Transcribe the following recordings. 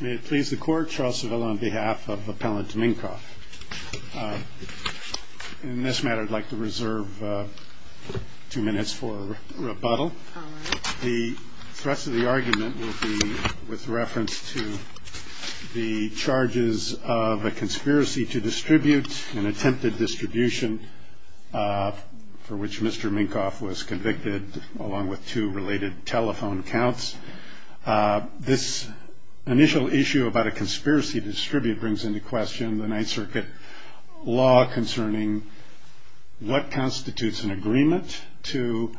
May it please the court, Charles Savella on behalf of Appellant Mincoff. In this matter, I'd like to reserve two minutes for rebuttal. The rest of the argument will be with reference to the charges of a conspiracy to distribute, an attempted distribution for which Mr. Mincoff was convicted, along with two related telephone counts. This initial issue about a conspiracy to distribute brings into question the Ninth Circuit law concerning what constitutes an agreement to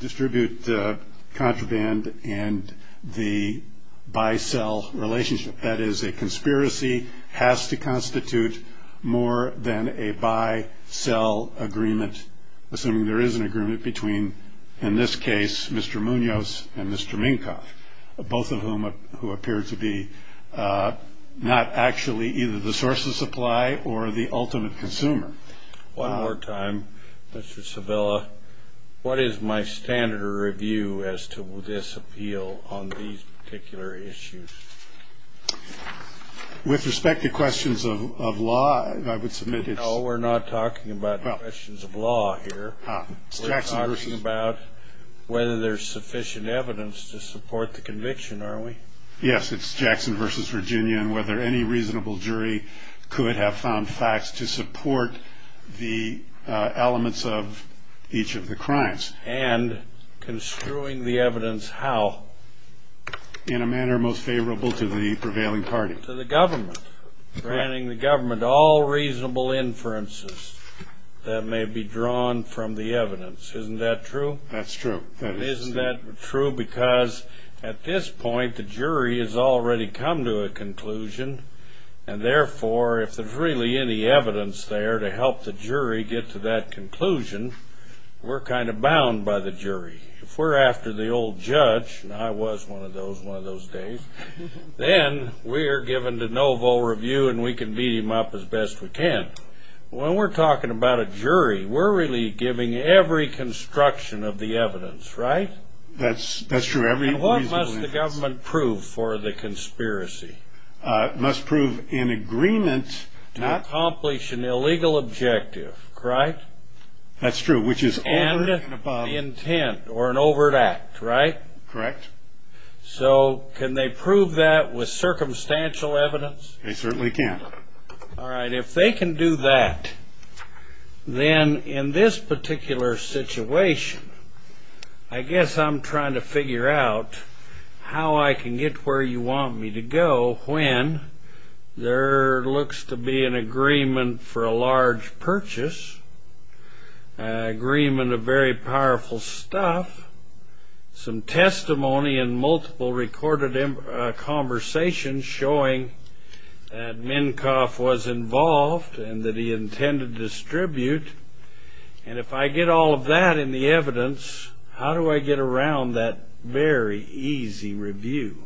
distribute the contraband and the buy-sell relationship. That is, a conspiracy has to constitute more than a buy-sell agreement, assuming there is an agreement between, in this case, Mr. Munoz and Mr. Mincoff, both of whom appear to be not actually either the source of supply or the ultimate consumer. One more time, Mr. Savella, what is my standard of review as to this appeal on these particular issues? With respect to questions of law, I would submit it's Well, we're not talking about questions of law here. We're talking about whether there's sufficient evidence to support the conviction, are we? Yes, it's Jackson v. Virginia and whether any reasonable jury could have found facts to support the elements of each of the crimes. And construing the evidence how? In a manner most favorable to the prevailing party. Granting the government all reasonable inferences that may be drawn from the evidence. Isn't that true? That's true. Isn't that true? Because at this point, the jury has already come to a conclusion, and therefore, if there's really any evidence there to help the jury get to that conclusion, we're kind of bound by the jury. If we're after the old judge, and I was one of those one of those days, then we are given de novo review, and we can beat him up as best we can. When we're talking about a jury, we're really giving every construction of the evidence, right? That's true. And what must the government prove for the conspiracy? It must prove in agreement to accomplish an illegal objective, correct? That's true, which is over and above. And intent, or an overt act, right? Correct. So can they prove that with circumstantial evidence? They certainly can. All right. If they can do that, then in this particular situation, I guess I'm trying to figure out how I can get where you want me to go when there looks to be an agreement for a large purchase, an agreement of very powerful stuff, some testimony in multiple recorded conversations showing that Minkoff was involved and that he intended to distribute. And if I get all of that in the evidence, how do I get around that very easy review?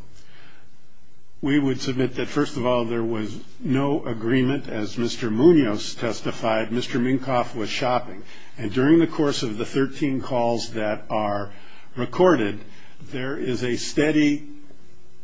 We would submit that, first of all, there was no agreement. As Mr. Munoz testified, Mr. Minkoff was shopping. And during the course of the 13 calls that are recorded, there is a steady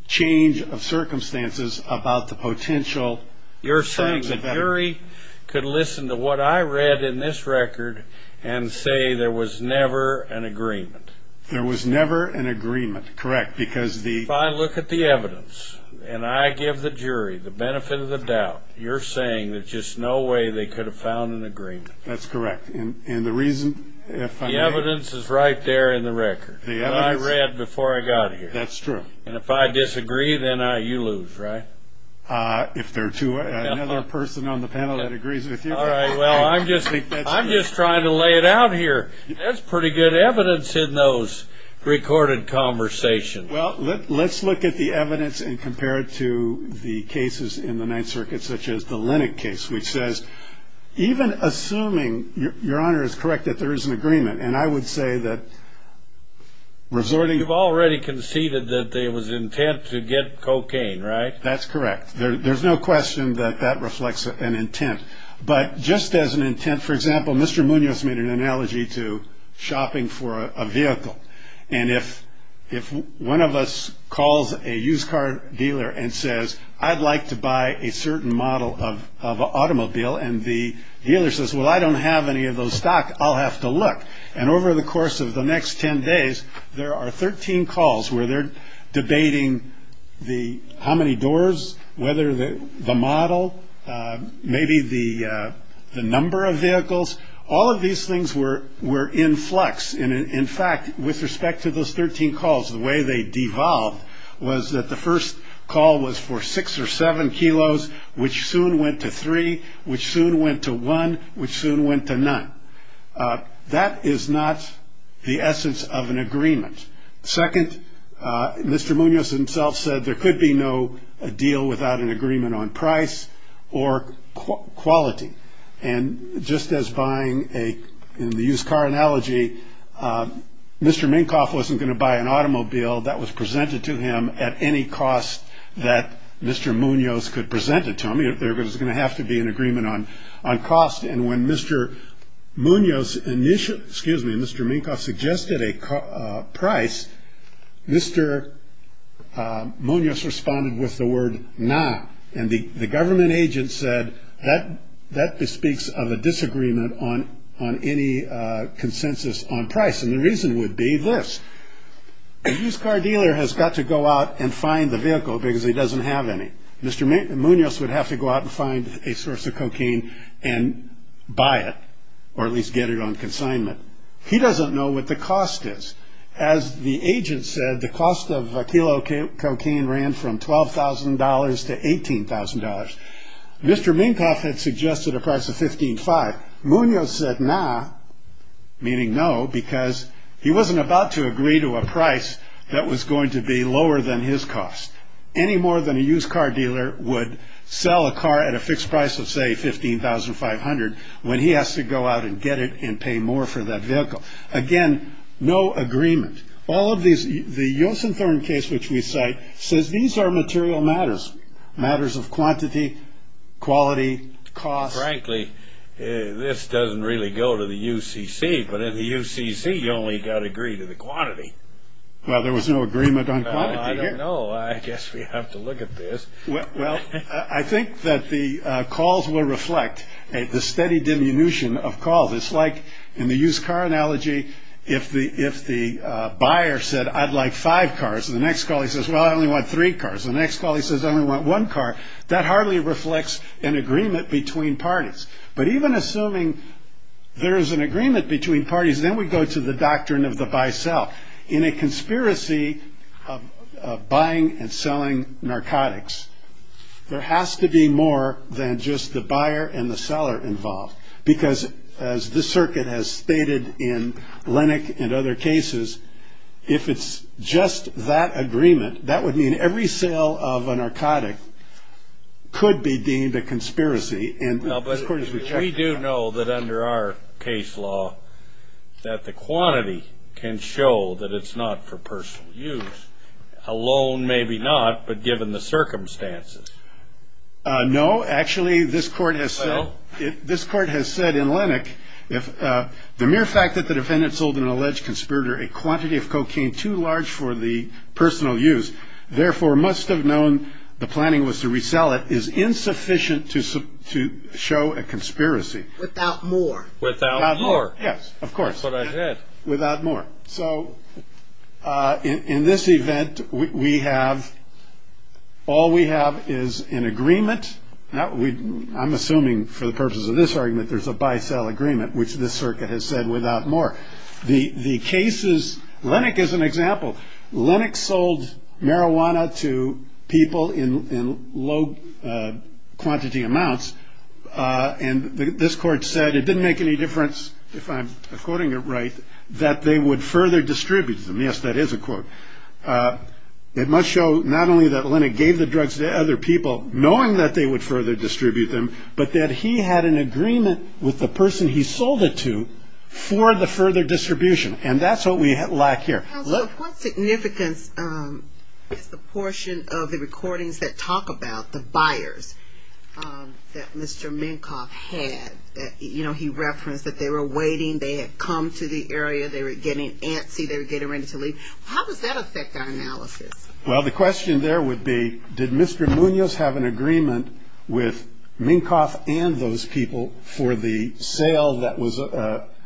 change of circumstances about the potential. You're saying the jury could listen to what I read in this record and say there was never an agreement? There was never an agreement, correct, because the ---- If I look at the evidence and I give the jury the benefit of the doubt, you're saying there's just no way they could have found an agreement? That's correct. And the reason if I may ---- The evidence is right there in the record, what I read before I got here. That's true. And if I disagree, then you lose, right? If there are two or another person on the panel that agrees with you. All right, well, I'm just trying to lay it out here. That's pretty good evidence in those recorded conversations. Well, let's look at the evidence and compare it to the cases in the Ninth Circuit, such as the Lennock case, which says, even assuming, Your Honor is correct, that there is an agreement, and I would say that resorting ---- You've already conceded that there was intent to get cocaine, right? That's correct. There's no question that that reflects an intent. But just as an intent, for example, Mr. Munoz made an analogy to shopping for a vehicle. And if one of us calls a used car dealer and says, I'd like to buy a certain model of an automobile, and the dealer says, Well, I don't have any of those stock, I'll have to look. And over the course of the next ten days, there are 13 calls where they're debating how many doors, whether the model, maybe the number of vehicles. All of these things were in flux. In fact, with respect to those 13 calls, the way they devolved was that the first call was for six or seven kilos, which soon went to three, which soon went to one, which soon went to none. That is not the essence of an agreement. Second, Mr. Munoz himself said there could be no deal without an agreement on price or quality. And just as buying a used car analogy, Mr. Minkoff wasn't going to buy an automobile that was presented to him at any cost that Mr. Munoz could present it to him. There was going to have to be an agreement on cost. And when Mr. Munoz initially, excuse me, Mr. Minkoff suggested a price, Mr. Munoz responded with the word, nah. And the government agent said, that bespeaks of a disagreement on any consensus on price. And the reason would be this. A used car dealer has got to go out and find the vehicle because he doesn't have any. Mr. Munoz would have to go out and find a source of cocaine and buy it, or at least get it on consignment. He doesn't know what the cost is. As the agent said, the cost of a kilo of cocaine ran from $12,000 to $18,000. Mr. Minkoff had suggested a price of $15,500. Munoz said nah, meaning no, because he wasn't about to agree to a price that was going to be lower than his cost. Any more than a used car dealer would sell a car at a fixed price of, say, $15,500 when he has to go out and get it and pay more for that vehicle. Again, no agreement. All of these, the Yosen Thorn case which we cite, says these are material matters. Matters of quantity, quality, cost. Frankly, this doesn't really go to the UCC, but in the UCC you only got to agree to the quantity. Well, there was no agreement on quantity. I don't know. I guess we have to look at this. Well, I think that the calls will reflect the steady diminution of calls. It's like in the used car analogy, if the buyer said, I'd like five cars, the next call he says, well, I only want three cars. The next call he says, I only want one car. That hardly reflects an agreement between parties. But even assuming there is an agreement between parties, then we go to the doctrine of the buy-sell. In a conspiracy of buying and selling narcotics, there has to be more than just the buyer and the seller involved. Because as this circuit has stated in Lennock and other cases, if it's just that agreement, that would mean every sale of a narcotic could be deemed a conspiracy. No, but we do know that under our case law that the quantity can show that it's not for personal use. Alone, maybe not, but given the circumstances. No, actually, this court has said in Lennock, the mere fact that the defendant sold an alleged conspirator a quantity of cocaine too large for the personal use, therefore must have known the planning was to resell it, is insufficient to show a conspiracy. Without more. Without more. Yes, of course. That's what I said. Without more. So in this event, we have, all we have is an agreement. I'm assuming for the purposes of this argument, there's a buy-sell agreement, which this circuit has said without more. The cases, Lennock is an example. Lennock sold marijuana to people in low quantity amounts, and this court said it didn't make any difference, if I'm quoting it right, that they would further distribute them. Yes, that is a quote. It must show not only that Lennock gave the drugs to other people, knowing that they would further distribute them, but that he had an agreement with the person he sold it to for the further distribution. And that's what we lack here. Counselor, what significance is the portion of the recordings that talk about the buyers that Mr. Minkoff had? You know, he referenced that they were waiting, they had come to the area, they were getting antsy, they were getting ready to leave. How does that affect our analysis? Well, the question there would be, did Mr. Munoz have an agreement with Minkoff and those people for the sale that was?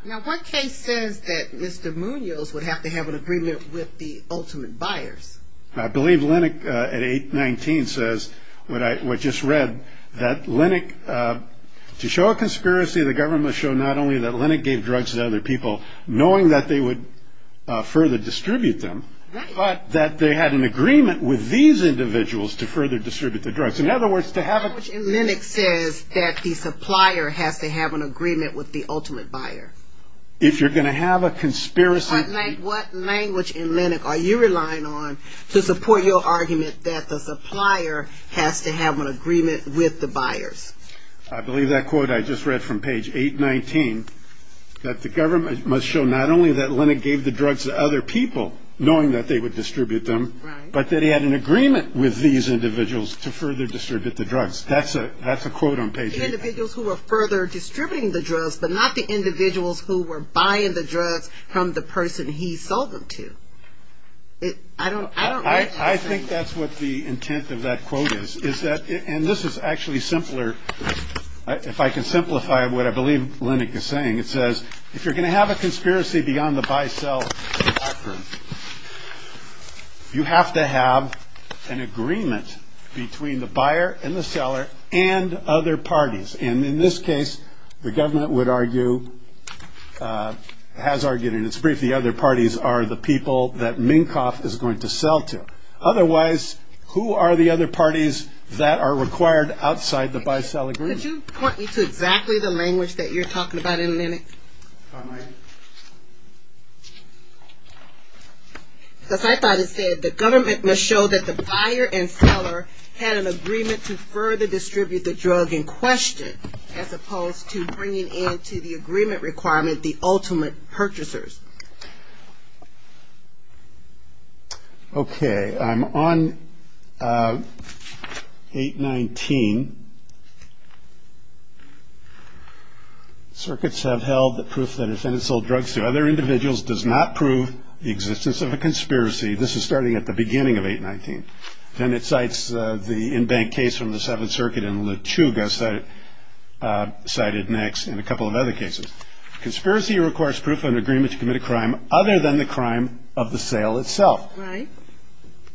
Now, one case says that Mr. Munoz would have to have an agreement with the ultimate buyers. I believe Lennock at 819 says, what I just read, that Lennock, to show a conspiracy, the government must show not only that Lennock gave drugs to other people, knowing that they would further distribute them, but that they had an agreement with these individuals to further distribute the drugs. In other words, to have a ---- Lennock says that the supplier has to have an agreement with the ultimate buyer. If you're going to have a conspiracy ---- What language in Lennock are you relying on to support your argument that the supplier has to have an agreement with the buyers? I believe that quote I just read from page 819, that the government must show not only that Lennock gave the drugs to other people, knowing that they would distribute them, but that he had an agreement with these individuals to further distribute the drugs. That's a quote on page 819. Not the individuals who were further distributing the drugs, but not the individuals who were buying the drugs from the person he sold them to. I don't ---- I think that's what the intent of that quote is, is that, and this is actually simpler. If I can simplify what I believe Lennock is saying, it says, if you're going to have a conspiracy beyond the buy-sell ---- You have to have an agreement between the buyer and the seller and other parties. And in this case, the government would argue, has argued in its brief, the other parties are the people that Minkoff is going to sell to. Otherwise, who are the other parties that are required outside the buy-sell agreement? Could you point me to exactly the language that you're talking about in Lennock? Because I thought it said, the government must show that the buyer and seller had an agreement to further distribute the drug in question, as opposed to bringing in to the agreement requirement the ultimate purchasers. Okay, I'm on 819. Circuits have held that proof that a defendant sold drugs to other individuals does not prove the existence of a conspiracy. This is starting at the beginning of 819. Then it cites the in-bank case from the Seventh Circuit in Lechuga, cited next, and a couple of other cases. Conspiracy requires proof of an agreement to commit a crime other than the crime of the sale itself. Right.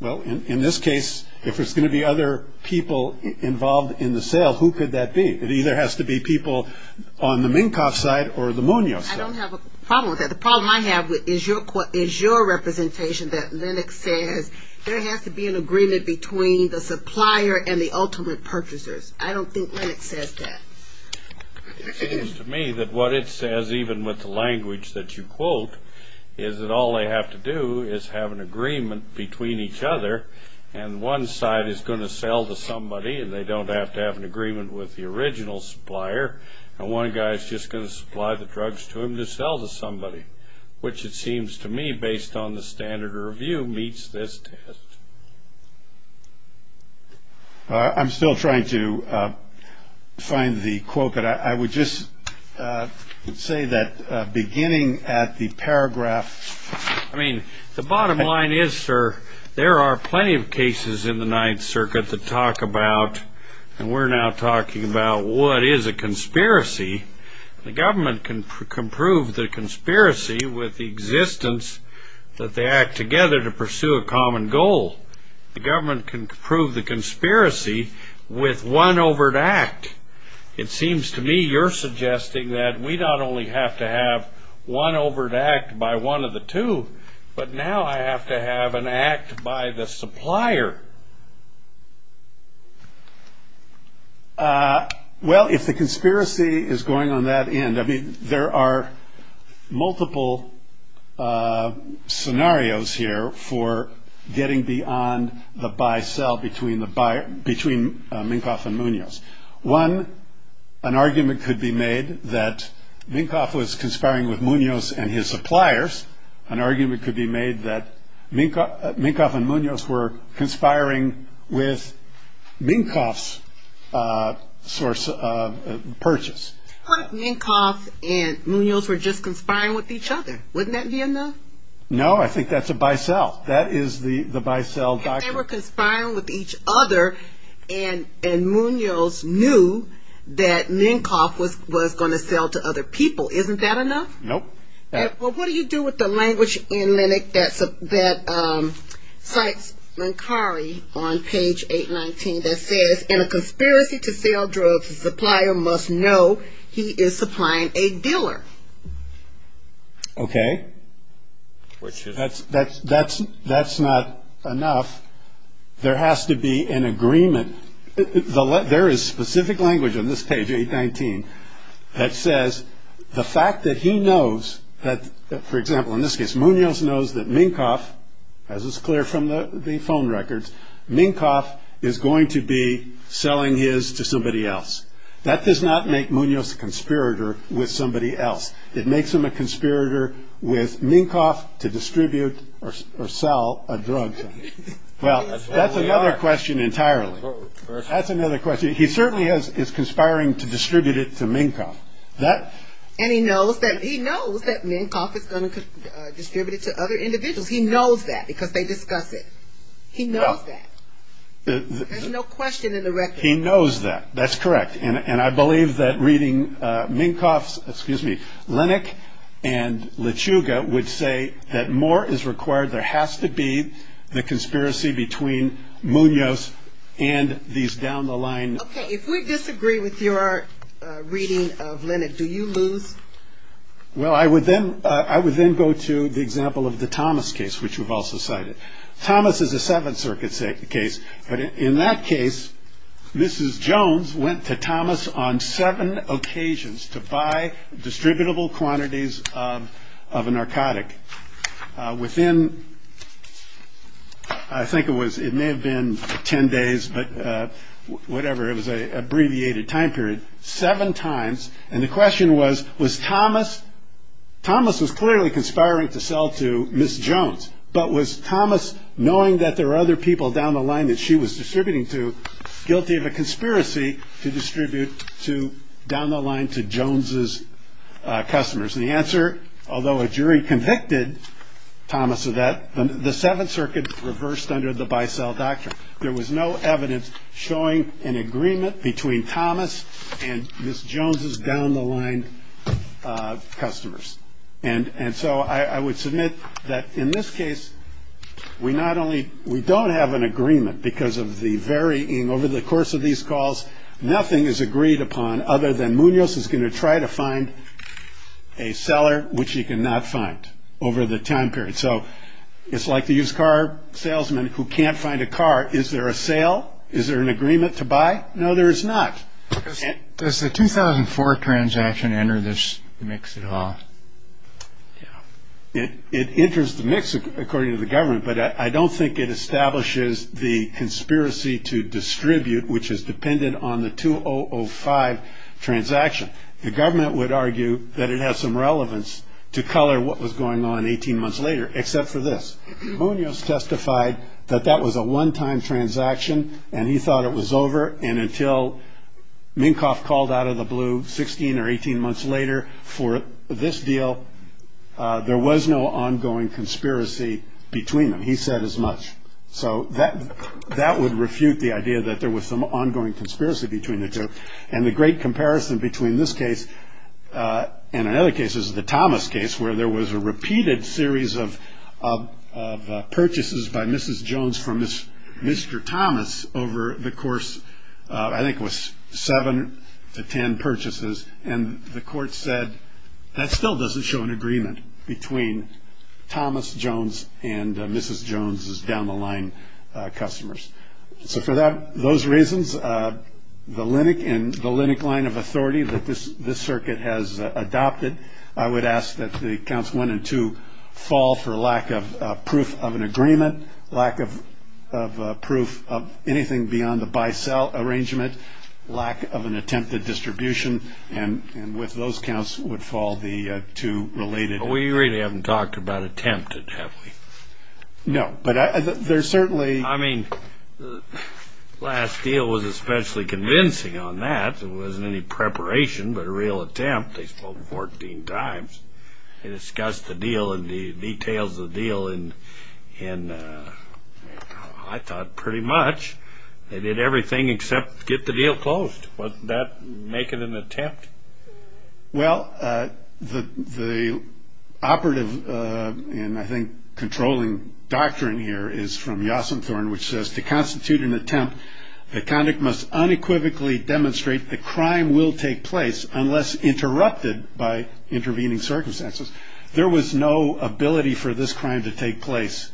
Well, in this case, if there's going to be other people involved in the sale, who could that be? It either has to be people on the Minkoff side or the Munoz side. I don't have a problem with that. The problem I have is your representation that Lennock says there has to be an agreement between the supplier and the ultimate purchasers. I don't think Lennock says that. It seems to me that what it says, even with the language that you quote, is that all they have to do is have an agreement between each other, and one side is going to sell to somebody and they don't have to have an agreement with the original supplier, and one guy is just going to supply the drugs to him to sell to somebody, which it seems to me, based on the standard review, meets this test. I'm still trying to find the quote, but I would just say that beginning at the paragraph. I mean, the bottom line is, sir, there are plenty of cases in the Ninth Circuit to talk about, and we're now talking about what is a conspiracy. The government can prove the conspiracy with the existence that they act together to pursue a common goal. The government can prove the conspiracy with one overt act. It seems to me you're suggesting that we not only have to have one overt act by one of the two, but now I have to have an act by the supplier. Well, if the conspiracy is going on that end, I mean, there are multiple scenarios here for getting beyond the buy-sell between Minkoff and Munoz. One, an argument could be made that Minkoff was conspiring with Munoz and his suppliers. An argument could be made that Minkoff and Munoz were conspiring with Minkoff's purchase. What if Minkoff and Munoz were just conspiring with each other? Wouldn't that be enough? No, I think that's a buy-sell. That is the buy-sell doctrine. They were conspiring with each other, and Munoz knew that Minkoff was going to sell to other people. Isn't that enough? Nope. Well, what do you do with the language in LENOC that cites Linkari on page 819 that says, in a conspiracy to sell drugs, the supplier must know he is supplying a dealer? Okay. That's not enough. There has to be an agreement. There is specific language on this page 819 that says the fact that he knows that, for example, in this case Munoz knows that Minkoff, as is clear from the phone records, Minkoff is going to be selling his to somebody else. That does not make Munoz a conspirator with somebody else. It makes him a conspirator with Minkoff to distribute or sell a drug. Well, that's another question entirely. That's another question. He certainly is conspiring to distribute it to Minkoff. And he knows that Minkoff is going to distribute it to other individuals. He knows that because they discuss it. He knows that. There's no question in the record. He knows that. That's correct. And I believe that reading Minkoff's, excuse me, Lenach and Lechuga would say that more is required. There has to be the conspiracy between Munoz and these down the line. Okay. If we disagree with your reading of Lenach, do you lose? Well, I would then go to the example of the Thomas case, which you've also cited. Thomas is a Seventh Circuit case. But in that case, Mrs. Jones went to Thomas on seven occasions to buy distributable quantities of a narcotic within. I think it was. It may have been 10 days, but whatever. It was a abbreviated time period. Seven times. And the question was, was Thomas. Thomas was clearly conspiring to sell to Miss Jones. But was Thomas, knowing that there are other people down the line that she was distributing to, guilty of a conspiracy to distribute to down the line to Jones's customers? And the answer, although a jury convicted Thomas of that, the Seventh Circuit reversed under the Bicel Doctrine. There was no evidence showing an agreement between Thomas and Miss Jones's down the line customers. And so I would submit that in this case, we not only we don't have an agreement because of the varying over the course of these calls. Nothing is agreed upon other than Munoz is going to try to find a seller, which he cannot find over the time period. So it's like the used car salesman who can't find a car. Is there a sale? Is there an agreement to buy? No, there is not. Does the 2004 transaction enter this mix at all? It enters the mix, according to the government. But I don't think it establishes the conspiracy to distribute, which is dependent on the 2005 transaction. The government would argue that it has some relevance to color what was going on 18 months later, except for this. Munoz testified that that was a one time transaction and he thought it was over. And until Minkoff called out of the blue 16 or 18 months later for this deal, there was no ongoing conspiracy between them. He said as much so that that would refute the idea that there was some ongoing conspiracy between the two. And the great comparison between this case and in other cases, the Thomas case, where there was a repeated series of purchases by Mrs. Jones from Mr. Thomas over the course, I think was seven to 10 purchases. And the court said that still doesn't show an agreement between Thomas Jones and Mrs. Jones's down the line customers. So for that, those reasons, the linic and the linic line of authority that this this circuit has adopted, I would ask that the council wanted to fall for lack of proof of an agreement, lack of proof of anything beyond the buy sell arrangement, lack of an attempted distribution. And with those counts would fall the two related. We really haven't talked about attempted. No, but there's certainly I mean, the last deal was especially convincing on that. It wasn't any preparation, but a real attempt. They spoke 14 times. They discussed the deal and the details of the deal. And I thought pretty much they did everything except get the deal closed. But that make it an attempt. Well, the the operative and I think controlling doctrine here is from Yasin Thorn, which says to constitute an attempt, the conduct must unequivocally demonstrate the crime will take place unless interrupted by intervening circumstances. There was no ability for this crime to take place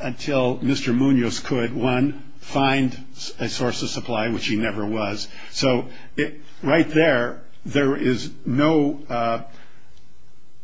until Mr. Munoz could one find a source of supply, which he never was. So right there, there is no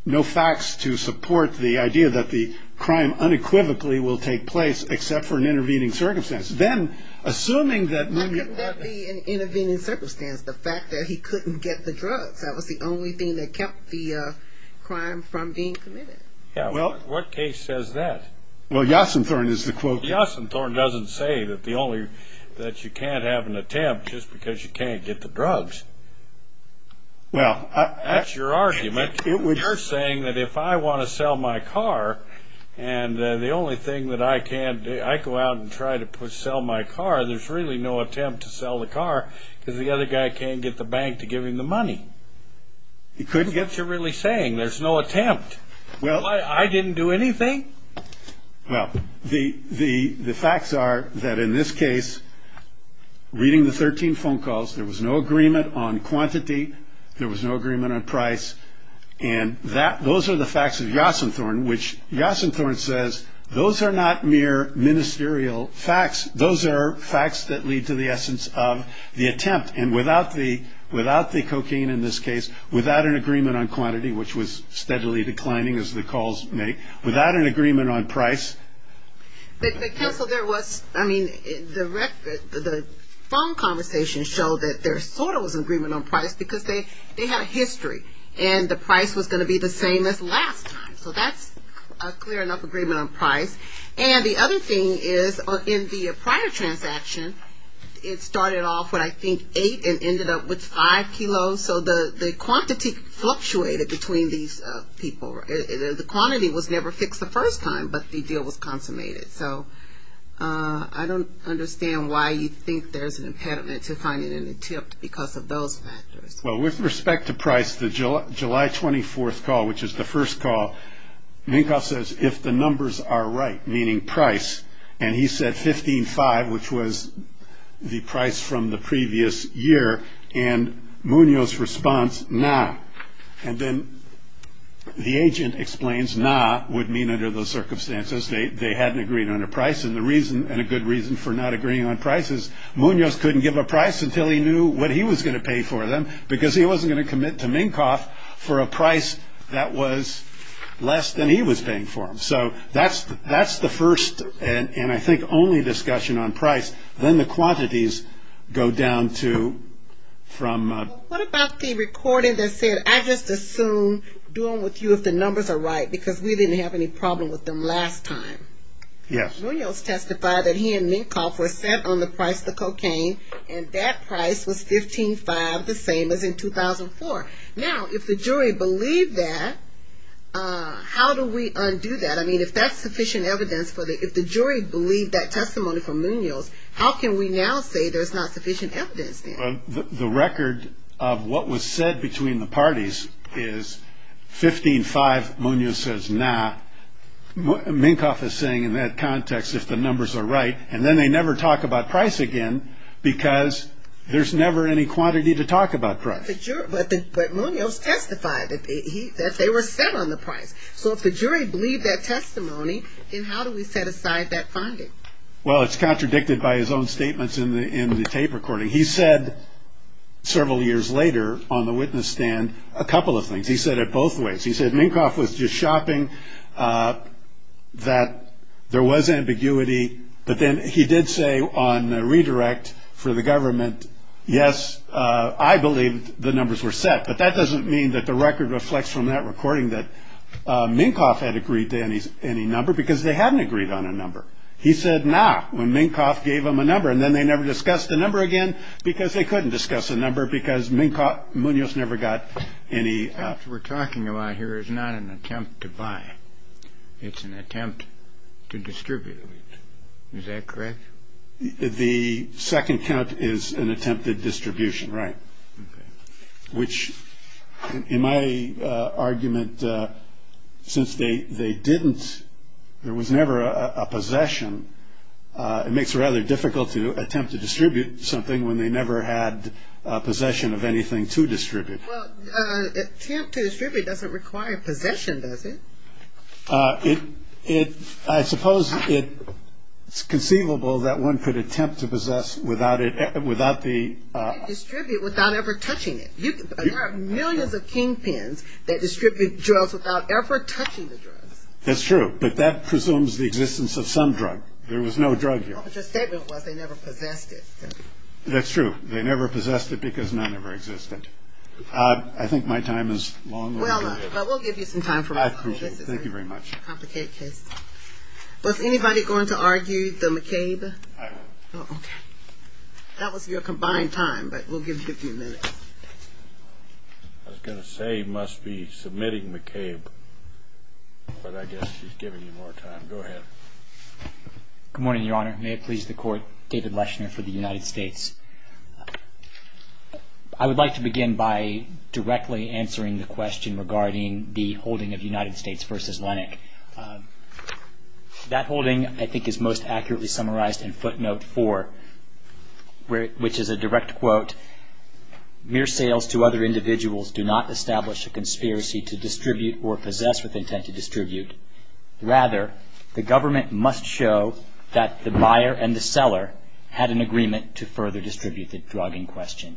no facts to support the idea that the crime unequivocally will take place, except for an intervening circumstance. Then, assuming that an intervening circumstance, the fact that he couldn't get the drugs, that was the only thing that kept the crime from being committed. Well, what case says that? Well, Yasin Thorn is the quote Yasin Thorn doesn't say that. The only that you can't have an attempt just because you can't get the drugs. Well, that's your argument. You're saying that if I want to sell my car and the only thing that I can do, I go out and try to sell my car. There's really no attempt to sell the car because the other guy can't get the bank to give him the money. He couldn't get to really saying there's no attempt. Well, I didn't do anything. Well, the facts are that in this case, reading the 13 phone calls, there was no agreement on quantity. There was no agreement on price. And that those are the facts of Yasin Thorn, which Yasin Thorn says those are not mere ministerial facts. Those are facts that lead to the essence of the attempt. And without the without the cocaine in this case, without an agreement on quantity, which was steadily declining as the calls make, without an agreement on price. So there was I mean, the phone conversations show that there sort of was an agreement on price because they had a history. And the price was going to be the same as last time. So that's a clear enough agreement on price. And the other thing is in the prior transaction, it started off when I think eight and ended up with five kilos. So the quantity fluctuated between these people. The quantity was never fixed the first time, but the deal was consummated. So I don't understand why you think there's an impediment to finding an attempt because of those factors. Well, with respect to price, the July 24th call, which is the first call, Minkoff says if the numbers are right, meaning price, and he said fifteen five, which was the price from the previous year. And Munoz response now. And then the agent explains now would mean under those circumstances they hadn't agreed on a price. And the reason and a good reason for not agreeing on prices. Munoz couldn't give a price until he knew what he was going to pay for them, because he wasn't going to commit to Minkoff for a price that was less than he was paying for him. So that's the first and I think only discussion on price. Then the quantities go down to from. What about the recording that said I just assume doing with you if the numbers are right, because we didn't have any problem with them last time. Yes. Munoz testified that he and Minkoff were set on the price, the cocaine, and that price was fifteen five, the same as in 2004. Now, if the jury believed that, how do we undo that? I mean, if that's sufficient evidence for the if the jury believed that testimony from Munoz, how can we now say there's not sufficient evidence? The record of what was said between the parties is fifteen five. Munoz says now Minkoff is saying in that context, if the numbers are right, and then they never talk about price again because there's never any quantity to talk about price. But Munoz testified that they were set on the price. So if the jury believed that testimony, then how do we set aside that finding? Well, it's contradicted by his own statements in the tape recording. He said several years later on the witness stand a couple of things. He said it both ways. He said Minkoff was just shopping, that there was ambiguity. But then he did say on the redirect for the government, yes, I believe the numbers were set. But that doesn't mean that the record reflects from that recording that Minkoff had agreed to any number because they hadn't agreed on a number. He said not when Minkoff gave him a number and then they never discussed the number again because they couldn't discuss a number because Minkoff Munoz never got any. The count we're talking about here is not an attempt to buy. It's an attempt to distribute. Is that correct? The second count is an attempt at distribution, right, which in my argument since they didn't, there was never a possession. It makes it rather difficult to attempt to distribute something when they never had possession of anything to distribute. Well, attempt to distribute doesn't require possession, does it? I suppose it's conceivable that one could attempt to possess without the You can't distribute without ever touching it. There are millions of kingpins that distribute drugs without ever touching the drugs. That's true, but that presumes the existence of some drug. There was no drug here. But your statement was they never possessed it. That's true. They never possessed it because none ever existed. I think my time is long. Well, we'll give you some time. Thank you very much. Was anybody going to argue the McCabe? I was. Okay. That was your combined time, but we'll give you a few minutes. I was going to say he must be submitting McCabe, but I guess he's giving you more time. Go ahead. Good morning, Your Honor. May it please the Court, David Leshner for the United States. I would like to begin by directly answering the question regarding the holding of United States v. Lennox. That holding, I think, is most accurately summarized in footnote four, which is a direct quote. Mere sales to other individuals do not establish a conspiracy to distribute or possess with intent to distribute. Rather, the government must show that the buyer and the seller had an agreement to further distribute the drug in question.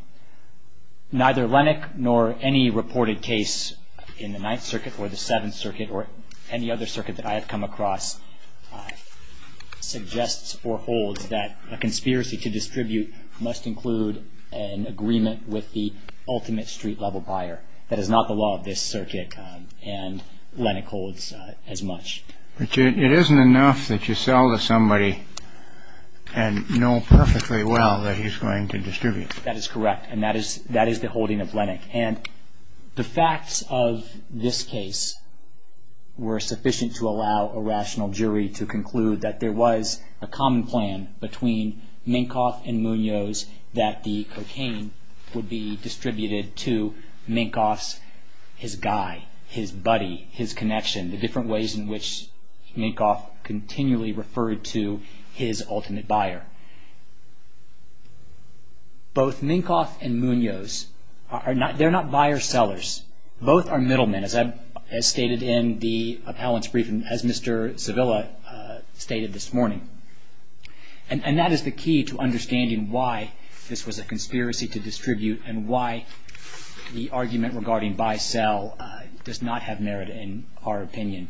Neither Lennox nor any reported case in the Ninth Circuit or the Seventh Circuit or any other circuit that I have come across suggests or holds that a conspiracy to distribute must include an agreement with the ultimate street-level buyer. That is not the law of this circuit, and Lennox holds as much. But it isn't enough that you sell to somebody and know perfectly well that he's going to distribute. That is correct, and that is the holding of Lennox. And the facts of this case were sufficient to allow a rational jury to conclude that there was a common plan between Minkoff and Munoz that the cocaine would be distributed to Minkoff's, his guy, his buddy, his connection, the different ways in which Minkoff continually referred to his ultimate buyer. Both Minkoff and Munoz, they're not buyer-sellers. Both are middlemen, as stated in the appellant's briefing, as Mr. Savilla stated this morning. And that is the key to understanding why this was a conspiracy to distribute and why the argument regarding buy-sell does not have merit in our opinion.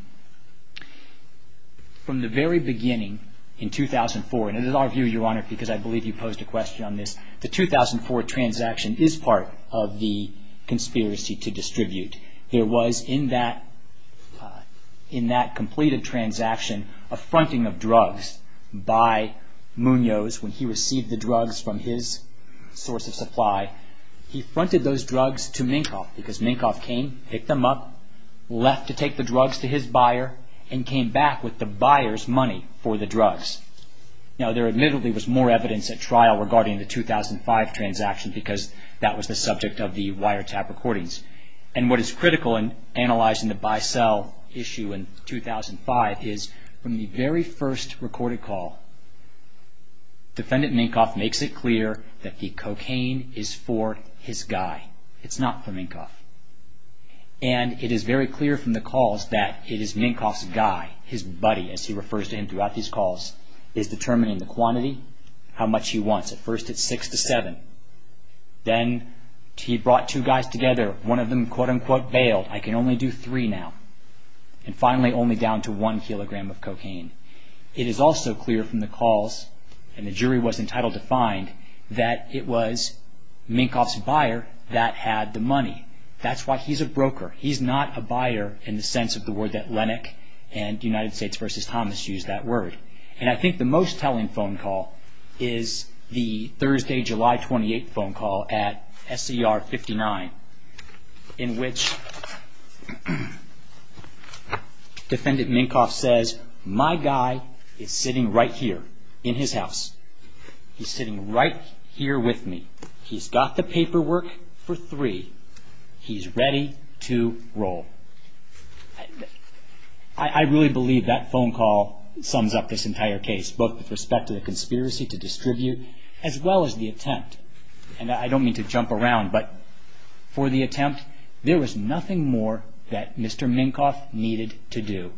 From the very beginning in 2004, and it is our view, Your Honor, because I believe you posed a question on this, the 2004 transaction is part of the conspiracy to distribute. There was, in that completed transaction, a fronting of drugs by Munoz. When he received the drugs from his source of supply, he fronted those drugs to Minkoff because Minkoff came, picked them up, left to take the drugs to his buyer, and came back with the buyer's money for the drugs. Now, there admittedly was more evidence at trial regarding the 2005 transaction because that was the subject of the wiretap recordings. And what is critical in analyzing the buy-sell issue in 2005 is, from the very first recorded call, Defendant Minkoff makes it clear that the cocaine is for his guy. It's not for Minkoff. And it is very clear from the calls that it is Minkoff's guy, his buddy, as he refers to him throughout these calls, is determining the quantity, how much he wants. At first it's six to seven. Then he brought two guys together. One of them, quote-unquote, bailed. I can only do three now. And finally, only down to one kilogram of cocaine. It is also clear from the calls, and the jury was entitled to find, that it was Minkoff's buyer that had the money. That's why he's a broker. He's not a buyer in the sense of the word Atlantic, and United States v. Thomas used that word. And I think the most telling phone call is the Thursday, July 28th phone call at SCR 59, in which Defendant Minkoff says, My guy is sitting right here in his house. He's sitting right here with me. He's got the paperwork for three. He's ready to roll. I really believe that phone call sums up this entire case, both with respect to the conspiracy to distribute, as well as the attempt. And I don't mean to jump around, but for the attempt, there was nothing more that Mr. Minkoff needed to do.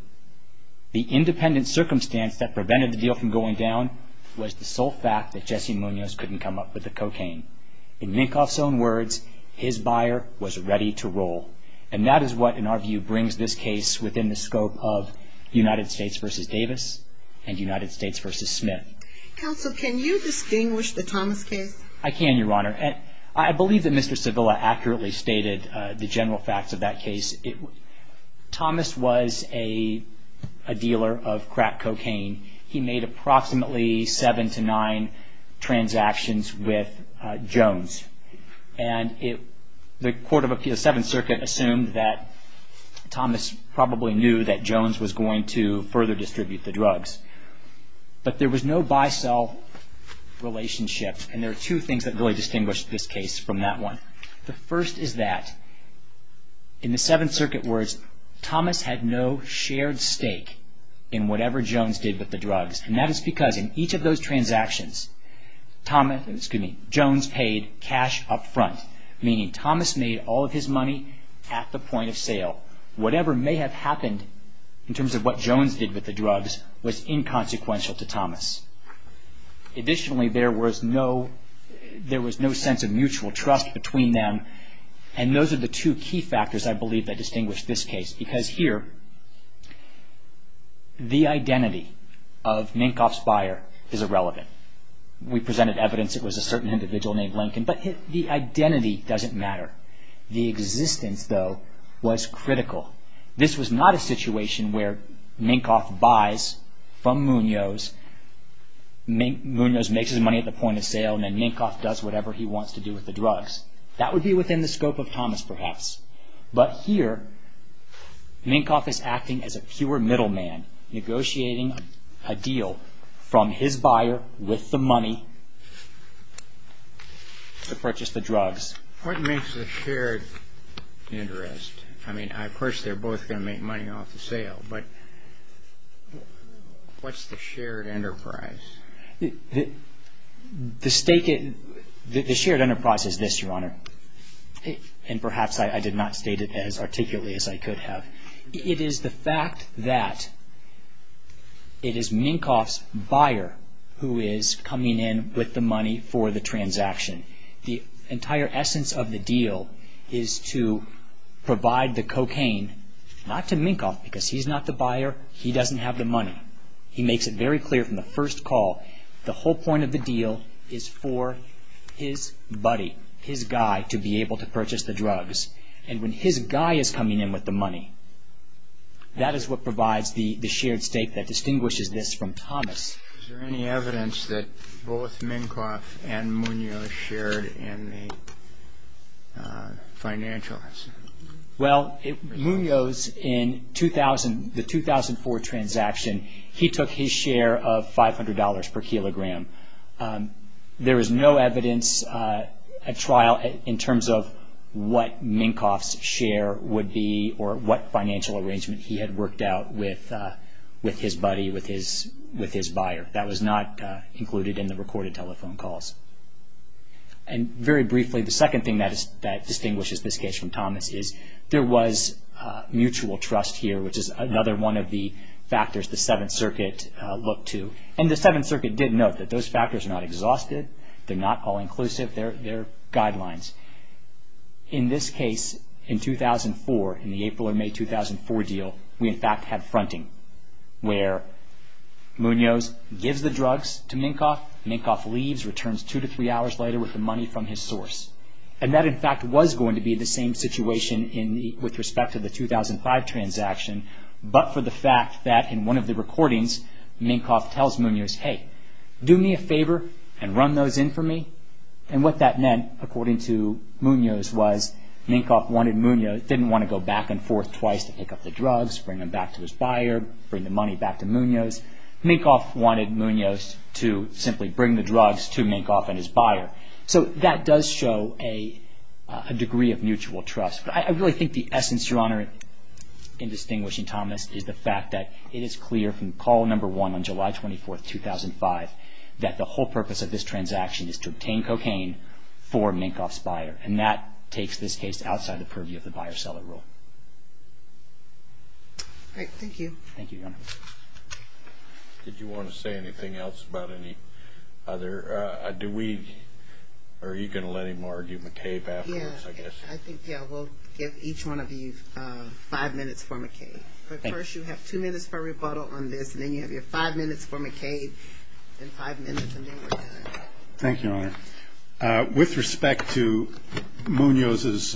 The independent circumstance that prevented the deal from going down was the sole fact that Jesse Munoz couldn't come up with the cocaine. In Minkoff's own words, his buyer was ready to roll. And that is what, in our view, brings this case within the scope of United States v. Davis and United States v. Smith. Counsel, can you distinguish the Thomas case? I can, Your Honor. I believe that Mr. Sevilla accurately stated the general facts of that case. Thomas was a dealer of crack cocaine. He made approximately seven to nine transactions with Jones. And the Court of Appeals, Seventh Circuit, assumed that Thomas probably knew that Jones was going to further distribute the drugs. But there was no buy-sell relationship, and there are two things that really distinguish this case from that one. The first is that, in the Seventh Circuit words, Thomas had no shared stake in whatever Jones did with the drugs. And that is because, in each of those transactions, Jones paid cash up front, meaning Thomas made all of his money at the point of sale. Whatever may have happened, in terms of what Jones did with the drugs, was inconsequential to Thomas. Additionally, there was no sense of mutual trust between them, and those are the two key factors, I believe, that distinguish this case. Because here, the identity of Minkoff's buyer is irrelevant. We presented evidence it was a certain individual named Lincoln, but the identity doesn't matter. The existence, though, was critical. This was not a situation where Minkoff buys from Munoz, Munoz makes his money at the point of sale, and then Minkoff does whatever he wants to do with the drugs. That would be within the scope of Thomas, perhaps. But here, Minkoff is acting as a pure middleman, negotiating a deal from his buyer with the money to purchase the drugs. What makes a shared interest? I mean, of course they're both going to make money off the sale, but what's the shared enterprise? The shared enterprise is this, Your Honor, and perhaps I did not state it as articulately as I could have. It is the fact that it is Minkoff's buyer who is coming in with the money for the transaction. The entire essence of the deal is to provide the cocaine, not to Minkoff, because he's not the buyer, he doesn't have the money. He makes it very clear from the first call, the whole point of the deal is for his buddy, his guy, to be able to purchase the drugs. And when his guy is coming in with the money, that is what provides the shared stake that distinguishes this from Thomas. Is there any evidence that both Minkoff and Munoz shared in the financial? Well, Munoz, in the 2004 transaction, he took his share of $500 per kilogram. There is no evidence at trial in terms of what Minkoff's share would be or what financial arrangement he had worked out with his buddy, with his buyer. That was not included in the recorded telephone calls. And very briefly, the second thing that distinguishes this case from Thomas is there was mutual trust here, which is another one of the factors the Seventh Circuit looked to. And the Seventh Circuit did note that those factors are not exhausted, they're not all-inclusive, they're guidelines. In this case, in 2004, in the April or May 2004 deal, we in fact had fronting where Munoz gives the drugs to Minkoff, Minkoff leaves, returns two to three hours later with the money from his source. And that in fact was going to be the same situation with respect to the 2005 transaction, but for the fact that in one of the recordings, Minkoff tells Munoz, hey, do me a favor and run those in for me. And what that meant, according to Munoz, was Minkoff wanted Munoz, didn't want to go back and forth twice to pick up the drugs, bring them back to his buyer, bring the money back to Munoz. Minkoff wanted Munoz to simply bring the drugs to Minkoff and his buyer. So that does show a degree of mutual trust. But I really think the essence, Your Honor, in distinguishing Thomas, is the fact that it is clear from call number one on July 24, 2005, that the whole purpose of this transaction is to obtain cocaine for Minkoff's buyer. And that takes this case outside the purview of the buyer-seller rule. All right. Thank you. Thank you, Your Honor. Did you want to say anything else about any other? Are you going to let him argue McCabe afterwards, I guess? Yeah. I think, yeah, we'll give each one of you five minutes for McCabe. But first you have two minutes for rebuttal on this, and then you have your five minutes for McCabe and five minutes, and then we're done. Thank you, Your Honor. With respect to Munoz,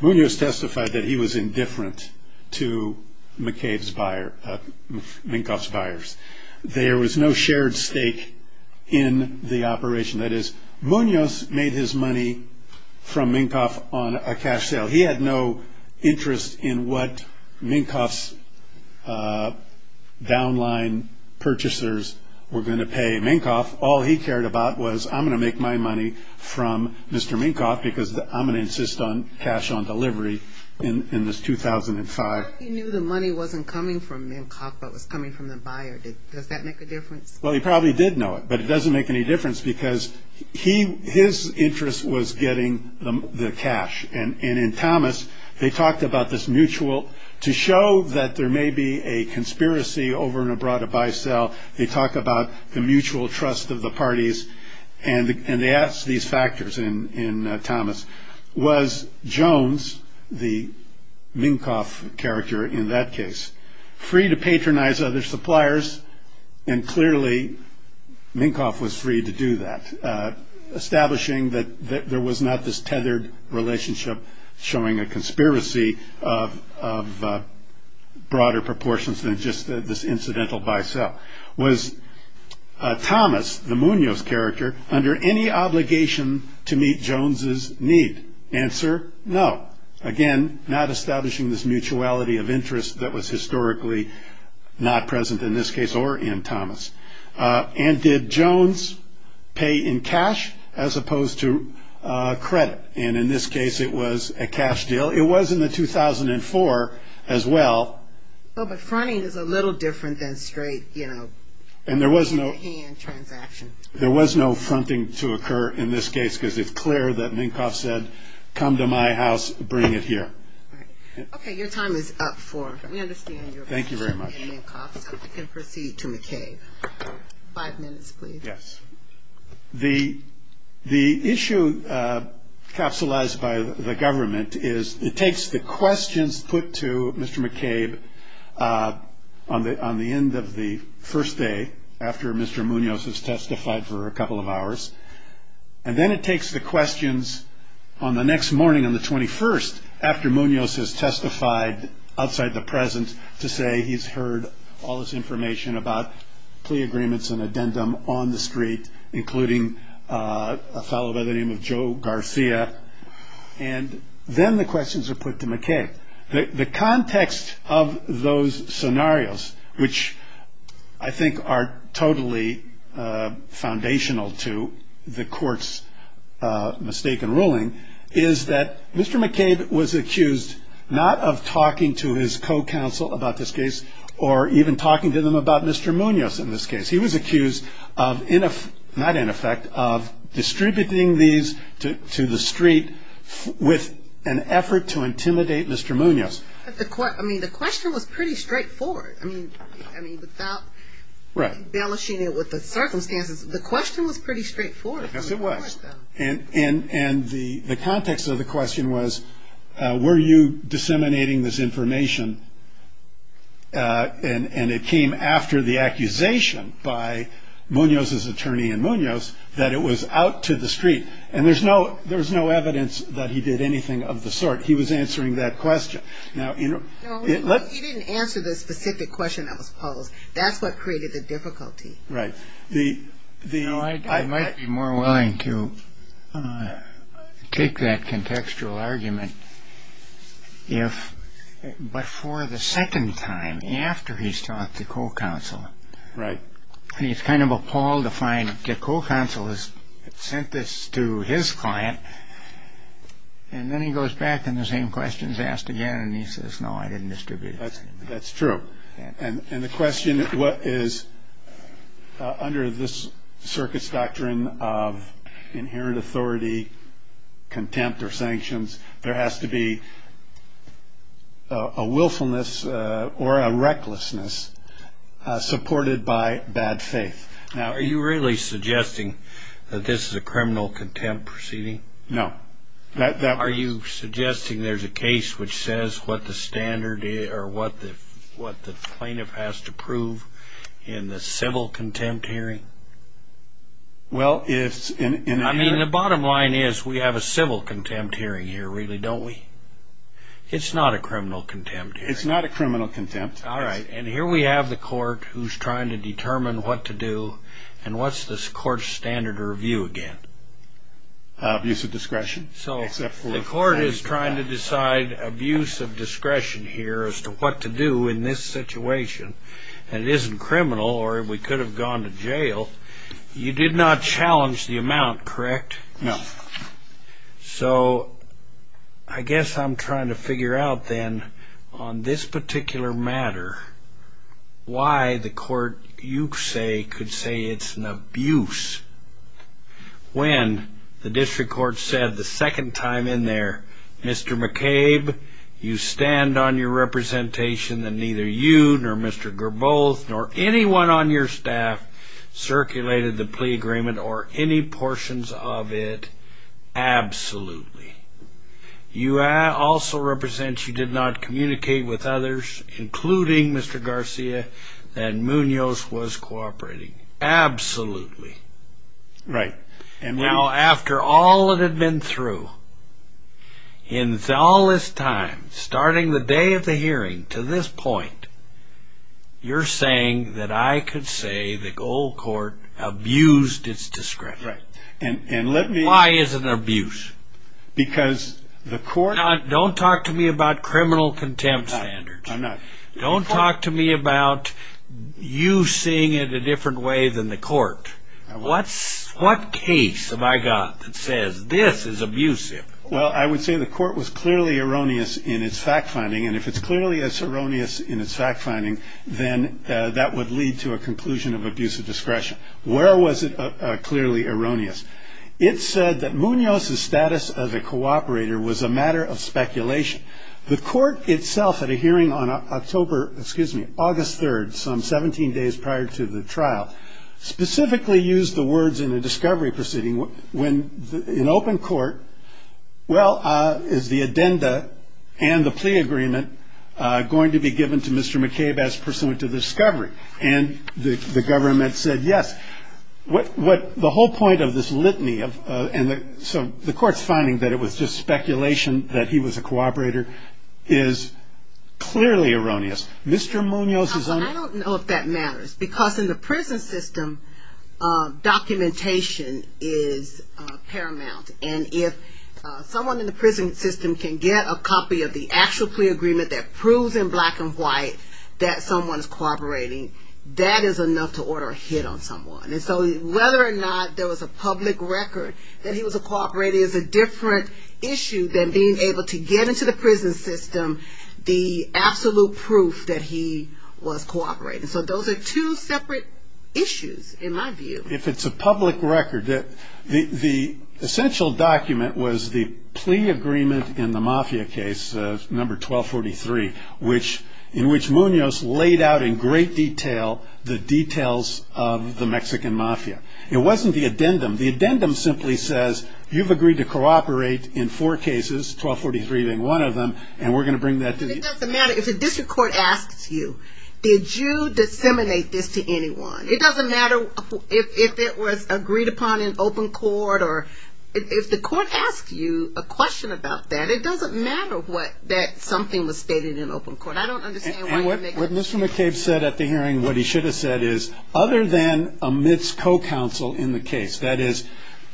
Munoz testified that he was indifferent to Minkoff's buyers. There was no shared stake in the operation. That is, Munoz made his money from Minkoff on a cash sale. He had no interest in what Minkoff's downline purchasers were going to pay Minkoff. All he cared about was I'm going to make my money from Mr. Minkoff because I'm going to insist on cash on delivery in this 2005. He knew the money wasn't coming from Minkoff, but was coming from the buyer. Does that make a difference? Well, he probably did know it, but it doesn't make any difference because his interest was getting the cash. And in Thomas, they talked about this mutual to show that there may be a conspiracy over and abroad to buy-sell. They talk about the mutual trust of the parties, and they asked these factors in Thomas. Was Jones, the Minkoff character in that case, free to patronize other suppliers? And clearly, Minkoff was free to do that, establishing that there was not this tethered relationship showing a conspiracy of broader proportions than just this incidental buy-sell. Was Thomas, the Munoz character, under any obligation to meet Jones's need? Answer, no. Again, not establishing this mutuality of interest that was historically not present in this case or in Thomas. And did Jones pay in cash as opposed to credit? And in this case, it was a cash deal. It was in the 2004 as well. Well, but fronting is a little different than straight, you know, in-the-hand transaction. There was no fronting to occur in this case because it's clear that Minkoff said, come to my house, bring it here. All right. Okay, your time is up for, we understand your position in Minkoff. Thank you very much. So we can proceed to McKay. Five minutes, please. Yes. The issue capsulized by the government is it takes the questions put to Mr. McCabe on the end of the first day after Mr. Munoz has testified for a couple of hours, and then it takes the questions on the next morning on the 21st after Munoz has testified outside the present to say he's heard all this information about plea agreements and addendum on the street, including a fellow by the name of Joe Garcia. And then the questions are put to McCabe. The context of those scenarios, which I think are totally foundational to the court's mistaken ruling, is that Mr. McCabe was accused not of talking to his co-counsel about this case or even talking to them about Mr. Munoz in this case. He was accused of, not in effect, of distributing these to the street with an effort to intimidate Mr. Munoz. I mean, the question was pretty straightforward. I mean, without embellishing it with the circumstances, the question was pretty straightforward. Yes, it was. And the context of the question was, were you disseminating this information, and it came after the accusation by Munoz's attorney in Munoz that it was out to the street. And there was no evidence that he did anything of the sort. He was answering that question. No, he didn't answer the specific question that was posed. That's what created the difficulty. Right. You know, I might be more willing to take that contextual argument if, but for the second time after he's talked to co-counsel. Right. He's kind of appalled to find that co-counsel has sent this to his client, and then he goes back and the same question is asked again, and he says, no, I didn't distribute it. That's true. And the question is, under this circuit's doctrine of inherent authority, contempt or sanctions, there has to be a willfulness or a recklessness supported by bad faith. Now, are you really suggesting that this is a criminal contempt proceeding? No. Are you suggesting there's a case which says what the standard is or what the plaintiff has to prove in the civil contempt hearing? I mean, the bottom line is we have a civil contempt hearing here, really, don't we? It's not a criminal contempt hearing. It's not a criminal contempt. All right. And here we have the court who's trying to determine what to do, and what's the court's standard of review again? Abuse of discretion. So the court is trying to decide abuse of discretion here as to what to do in this situation, and it isn't criminal or we could have gone to jail. You did not challenge the amount, correct? No. So I guess I'm trying to figure out then on this particular matter why the court, you say, could say it's an abuse. When the district court said the second time in there, Mr. McCabe, you stand on your representation that neither you nor Mr. Garboth nor anyone on your staff circulated the plea agreement or any portions of it, absolutely. You also represent you did not communicate with others, including Mr. Garcia, that Munoz was cooperating. Absolutely. Right. Now, after all that had been through, in all this time, starting the day of the hearing to this point, you're saying that I could say the old court abused its discretion. Right. Why is it an abuse? Because the court- Don't talk to me about criminal contempt standards. I'm not. Don't talk to me about you seeing it a different way than the court. What case have I got that says this is abusive? Well, I would say the court was clearly erroneous in its fact-finding, and if it's clearly as erroneous in its fact-finding, then that would lead to a conclusion of abuse of discretion. Where was it clearly erroneous? It said that Munoz's status as a cooperator was a matter of speculation. The court itself at a hearing on October-excuse me-August 3rd, some 17 days prior to the trial, specifically used the words in the discovery proceeding when in open court, well, is the addenda and the plea agreement going to be given to Mr. McCabe as pursuant to discovery? And the government said yes. The whole point of this litany of- so the court's finding that it was just speculation that he was a cooperator is clearly erroneous. Mr. Munoz is- I don't know if that matters because in the prison system, documentation is paramount, and if someone in the prison system can get a copy of the actual plea agreement that proves in black and white that someone is cooperating, that is enough to order a hit on someone. And so whether or not there was a public record that he was a cooperator is a different issue than being able to get into the prison system the absolute proof that he was cooperating. So those are two separate issues in my view. If it's a public record, the essential document was the plea agreement in the Mafia case, number 1243, in which Munoz laid out in great detail the details of the Mexican Mafia. It wasn't the addendum. The addendum simply says you've agreed to cooperate in four cases, 1243 being one of them, and we're going to bring that to you. But it doesn't matter if the district court asks you, did you disseminate this to anyone? It doesn't matter if it was agreed upon in open court. Or if the court asks you a question about that, it doesn't matter that something was stated in open court. I don't understand why you make that decision. And what Mr. McCabe said at the hearing, what he should have said, is other than amidst co-counsel in the case, that is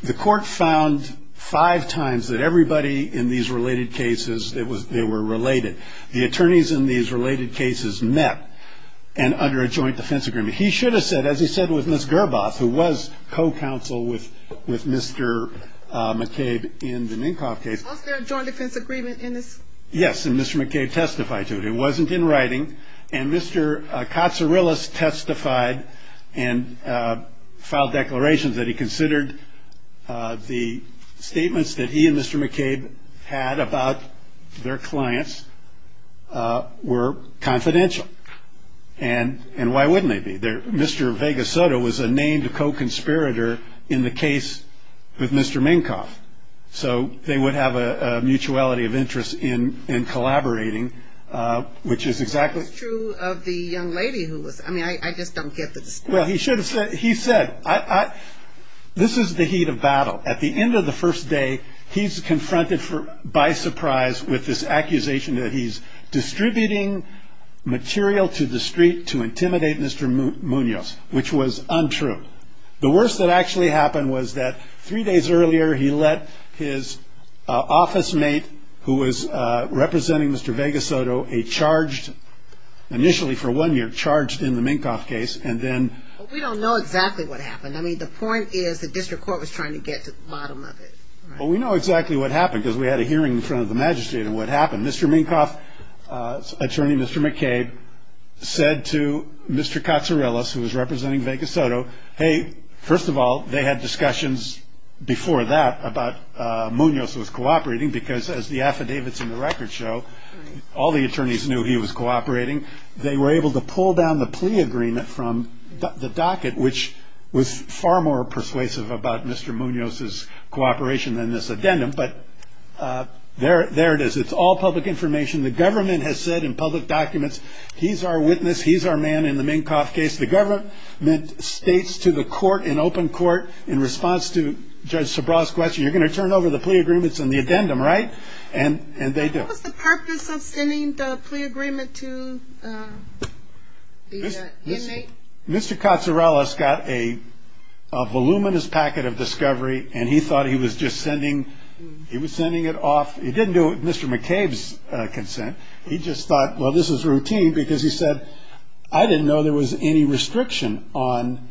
the court found five times that everybody in these related cases, they were related. The attorneys in these related cases met and under a joint defense agreement. He should have said, as he said with Ms. Gerboff, who was co-counsel with Mr. McCabe in the Ninkoff case. Was there a joint defense agreement in this? Yes, and Mr. McCabe testified to it. It wasn't in writing. And Mr. Katsurilis testified and filed declarations that he considered the statements that he and Mr. McCabe had about their clients were confidential. And why wouldn't they be? Mr. Vegasotto was a named co-conspirator in the case with Mr. Minkoff. So they would have a mutuality of interest in collaborating, which is exactly. It's true of the young lady who was – I mean, I just don't get the distinction. Well, he should have said – he said, this is the heat of battle. At the end of the first day, he's confronted by surprise with this accusation that he's distributing material to the street to intimidate Mr. Munoz, which was untrue. The worst that actually happened was that three days earlier, he let his office mate, who was representing Mr. Vegasotto, a charged – initially for one year, charged in the Minkoff case. And then – We don't know exactly what happened. I mean, the point is the district court was trying to get to the bottom of it. Well, we know exactly what happened because we had a hearing in front of the magistrate on what happened. Mr. Minkoff's attorney, Mr. McCabe, said to Mr. Katsourelis, who was representing Vegasotto, hey, first of all, they had discussions before that about Munoz was cooperating because as the affidavits in the record show, all the attorneys knew he was cooperating. They were able to pull down the plea agreement from the docket, which was far more persuasive about Mr. Munoz's cooperation than this addendum. But there it is. It's all public information. The government has said in public documents, he's our witness, he's our man in the Minkoff case. The government states to the court in open court in response to Judge Sobral's question, you're going to turn over the plea agreements and the addendum, right? And they do. What was the purpose of sending the plea agreement to the inmate? Mr. Katsourelis got a voluminous packet of discovery, and he thought he was just sending it off. He didn't do it with Mr. McCabe's consent. He just thought, well, this is routine because he said, I didn't know there was any restriction on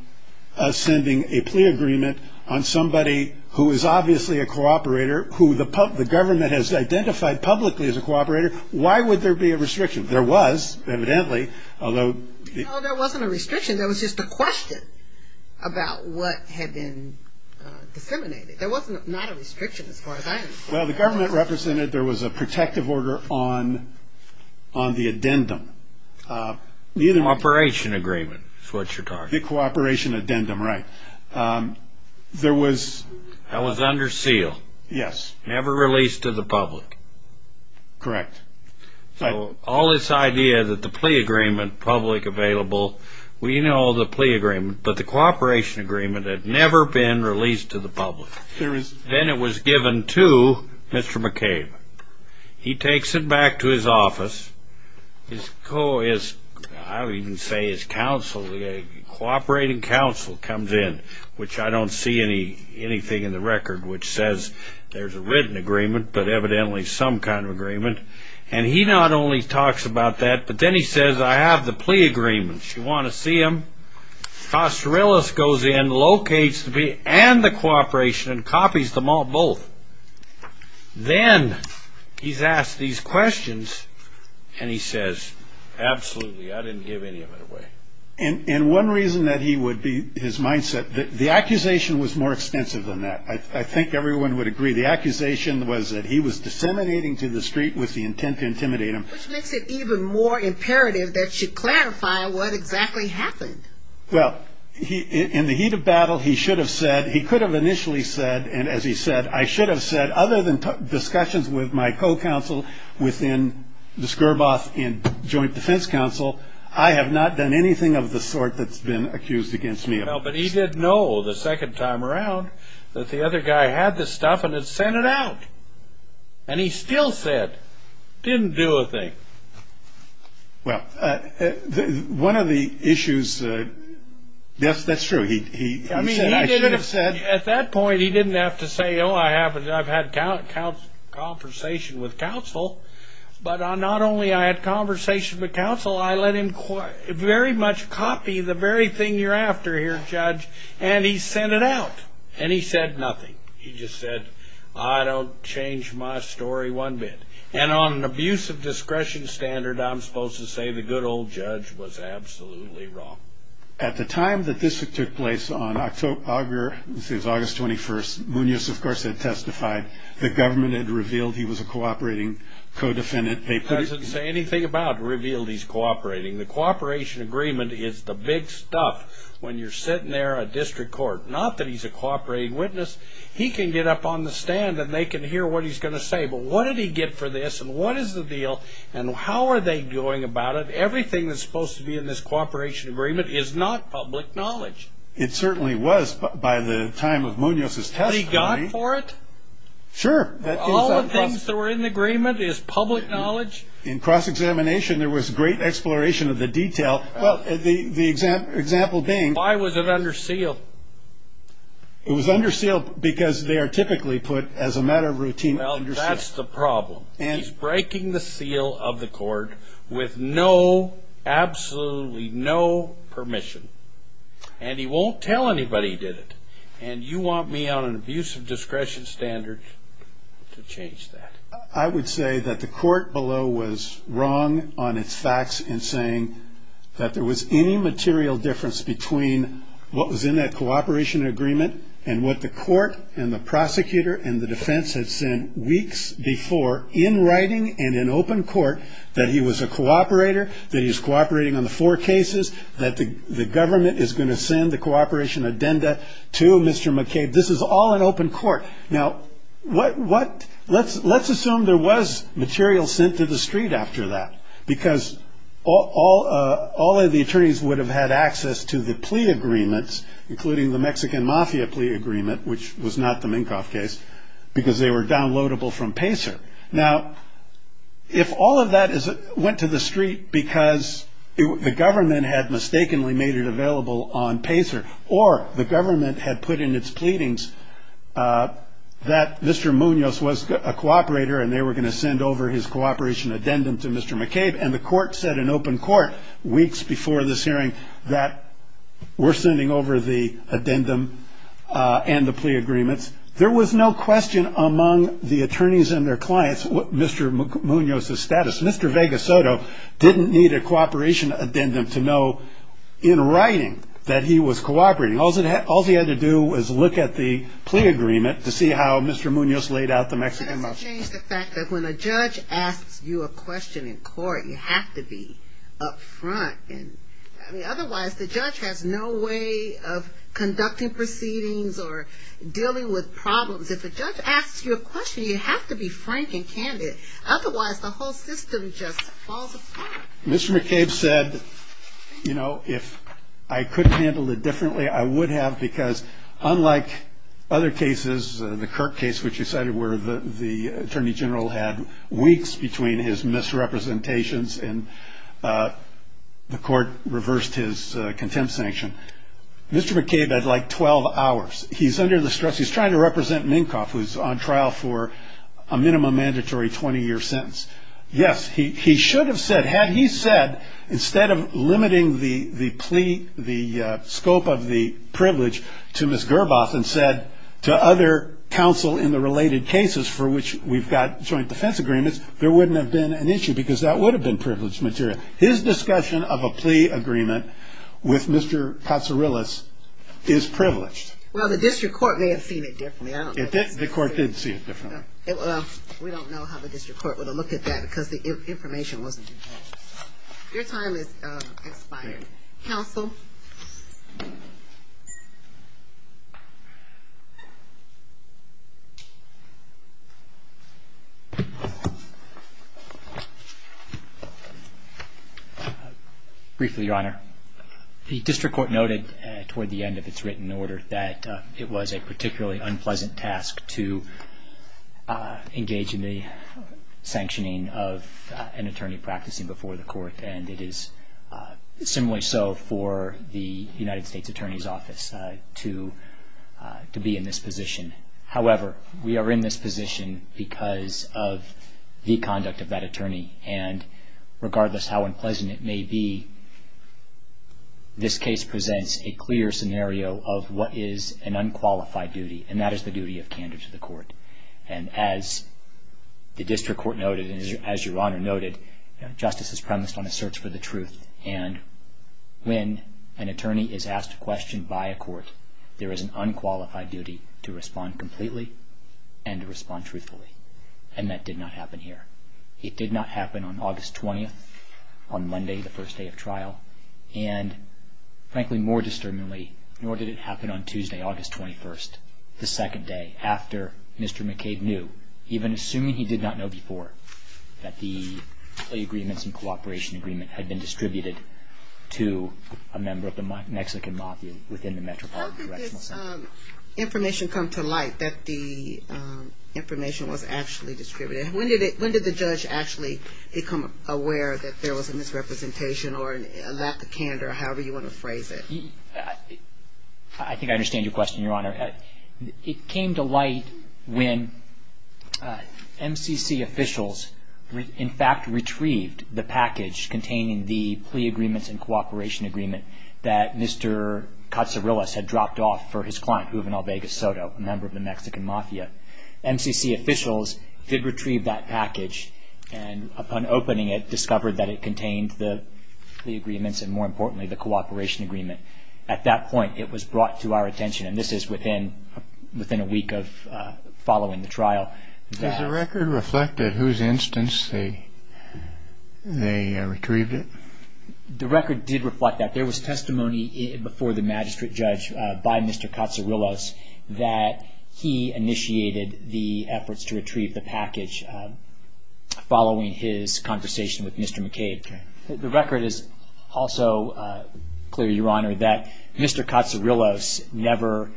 sending a plea agreement on somebody who is obviously a cooperator, who the government has identified publicly as a cooperator. Why would there be a restriction? There was, evidently, although- No, there wasn't a restriction. There was just a question about what had been disseminated. There was not a restriction as far as I'm concerned. Well, the government represented there was a protective order on the addendum. The cooperation agreement is what you're talking about. The cooperation addendum, right. That was under seal. Yes. Never released to the public. Correct. All this idea that the plea agreement, public available, we know the plea agreement, but the cooperation agreement had never been released to the public. Then it was given to Mr. McCabe. He takes it back to his office. I would even say his counsel, cooperating counsel, comes in, which I don't see anything in the record which says there's a written agreement, but evidently some kind of agreement, and he not only talks about that, but then he says, I have the plea agreement. Do you want to see them? Costorilas goes in, locates the plea and the cooperation, and copies them all, both. Then he's asked these questions, and he says, absolutely, I didn't give any of it away. And one reason that he would be, his mindset, the accusation was more extensive than that. I think everyone would agree. The accusation was that he was disseminating to the street with the intent to intimidate him. Which makes it even more imperative that she clarify what exactly happened. Well, in the heat of battle, he should have said, he could have initially said, and as he said, I should have said, other than discussions with my co-counsel within the Skirboth and Joint Defense Council, I have not done anything of the sort that's been accused against me. Well, but he did know the second time around that the other guy had the stuff and had sent it out. And he still said, didn't do a thing. Well, one of the issues, yes, that's true. He should have said. At that point, he didn't have to say, oh, I've had conversation with counsel, but not only I had conversation with counsel, I let him very much copy the very thing you're after here, judge. And he sent it out. And he said nothing. He just said, I don't change my story one bit. And on an abuse of discretion standard, I'm supposed to say the good old judge was absolutely wrong. At the time that this took place on August 21st, Munoz, of course, had testified. The government had revealed he was a cooperating co-defendant. It doesn't say anything about revealed he's cooperating. The cooperation agreement is the big stuff when you're sitting there at district court. Not that he's a cooperating witness. He can get up on the stand, and they can hear what he's going to say. But what did he get for this, and what is the deal, and how are they going about it? Everything that's supposed to be in this cooperation agreement is not public knowledge. It certainly was by the time of Munoz's testimony. He got for it? Sure. All the things that were in the agreement is public knowledge? In cross-examination, there was great exploration of the detail. The example being? Why was it under seal? It was under seal because they are typically put as a matter of routine under seal. Well, that's the problem. He's breaking the seal of the court with no, absolutely no permission. And he won't tell anybody he did it. And you want me on an abuse of discretion standard to change that. I would say that the court below was wrong on its facts in saying that there was any material difference between what was in that cooperation agreement and what the court and the prosecutor and the defense had said weeks before in writing and in open court that he was a cooperator, that he was cooperating on the four cases, that the government is going to send the cooperation addenda to Mr. McCabe. This is all in open court. Now, let's assume there was material sent to the street after that because all of the attorneys would have had access to the plea agreements, including the Mexican Mafia plea agreement, which was not the Minkoff case, because they were downloadable from Pacer. Now, if all of that went to the street because the government had mistakenly made it available on Pacer or the government had put in its pleadings that Mr. Munoz was a cooperator and they were going to send over his cooperation addendum to Mr. McCabe and the court said in open court weeks before this hearing that we're sending over the addendum and the plea agreements, there was no question among the attorneys and their clients what Mr. Munoz's status. Mr. Vega Soto didn't need a cooperation addendum to know in writing that he was cooperating. All he had to do was look at the plea agreement to see how Mr. Munoz laid out the Mexican Mafia. But that doesn't change the fact that when a judge asks you a question in court, you have to be up front. Otherwise, the judge has no way of conducting proceedings or dealing with problems. If a judge asks you a question, you have to be frank and candid. Otherwise, the whole system just falls apart. Mr. McCabe said, you know, if I could handle it differently, I would have, because unlike other cases, the Kirk case, which you cited, where the attorney general had weeks between his misrepresentations and the court reversed his contempt sanction, Mr. McCabe had like 12 hours. He's under the stress. He's trying to represent Minkoff, who's on trial for a minimum mandatory 20-year sentence. Yes, he should have said, had he said, instead of limiting the plea, the scope of the privilege to Ms. Gerbath and said to other counsel in the related cases for which we've got joint defense agreements, there wouldn't have been an issue because that would have been privileged material. His discussion of a plea agreement with Mr. Katsourilis is privileged. Well, the district court may have seen it differently. The court did see it differently. We don't know how the district court would have looked at that because the information wasn't there. Your time has expired. Counsel. Briefly, Your Honor. The district court noted toward the end of its written order that it was a particularly unpleasant task to engage in the sanctioning of an attorney practicing before the court, and it is similarly so for the United States Attorney's Office to be in this position. However, we are in this position because of the conduct of that attorney, and regardless of how unpleasant it may be, this case presents a clear scenario of what is an unqualified duty, and that is the duty of candor to the court. And as the district court noted, and as Your Honor noted, justice is premised on a search for the truth, and when an attorney is asked a question by a court, there is an unqualified duty to respond completely and to respond truthfully, and that did not happen here. It did not happen on August 20th, on Monday, the first day of trial, and frankly, more disturbingly, nor did it happen on Tuesday, August 21st, the second day, after Mr. McCabe knew, even assuming he did not know before, that the agreements and cooperation agreement had been distributed to a member of the Mexican mafia within the Metropolitan Correctional Center. How did the information come to light that the information was actually distributed? When did the judge actually become aware that there was a misrepresentation or a lack of candor, however you want to phrase it? I think I understand your question, Your Honor. It came to light when MCC officials, in fact, retrieved the package containing the plea agreements and cooperation agreement that Mr. Katsurilas had dropped off for his client, Juvenal Vegas Soto, a member of the Mexican mafia. MCC officials did retrieve that package, and upon opening it, discovered that it contained the plea agreements and, more importantly, the cooperation agreement. At that point, it was brought to our attention, and this is within a week of following the trial. Does the record reflect at whose instance they retrieved it? The record did reflect that. There was testimony before the magistrate judge by Mr. Katsurilas that he initiated the efforts to retrieve the package following his conversation with Mr. McCabe. The record is also clear, Your Honor, that Mr. Katsurilas never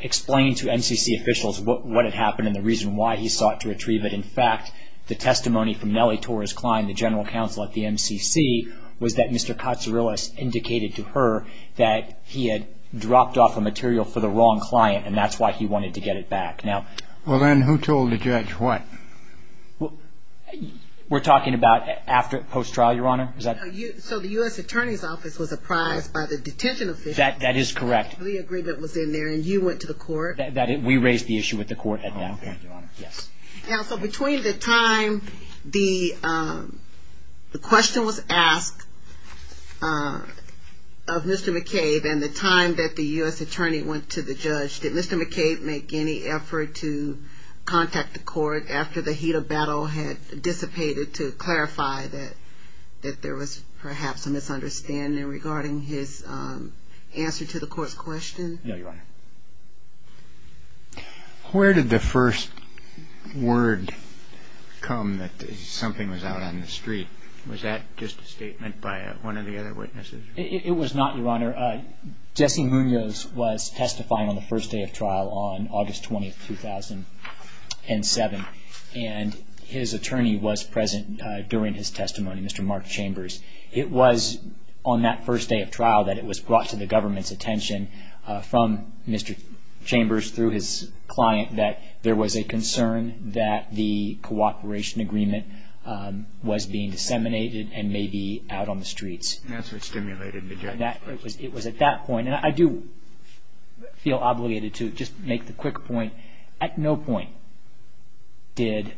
explained to MCC officials what had happened and the reason why he sought to retrieve it. In fact, the testimony from Nelly Torres-Klein, the general counsel at the MCC, was that Mr. Katsurilas indicated to her that he had dropped off a material for the wrong client, and that's why he wanted to get it back. Well, then, who told the judge what? We're talking about after post-trial, Your Honor? So the U.S. Attorney's Office was apprised by the detention officials. That is correct. The agreement was in there, and you went to the court. We raised the issue with the court at that point, Your Honor. Counsel, between the time the question was asked of Mr. McCabe and the time that the U.S. Attorney went to the judge, did Mr. McCabe make any effort to contact the court after the heat of battle had dissipated to clarify that there was perhaps a misunderstanding regarding his answer to the court's question? No, Your Honor. Where did the first word come that something was out on the street? Was that just a statement by one of the other witnesses? It was not, Your Honor. Jesse Munoz was testifying on the first day of trial on August 20, 2007, and his attorney was present during his testimony, Mr. Mark Chambers. It was on that first day of trial that it was brought to the government's attention from Mr. Chambers through his client that there was a concern that the cooperation agreement was being disseminated and may be out on the streets. That's what stimulated the judge. It was at that point, and I do feel obligated to just make the quick point, at no point did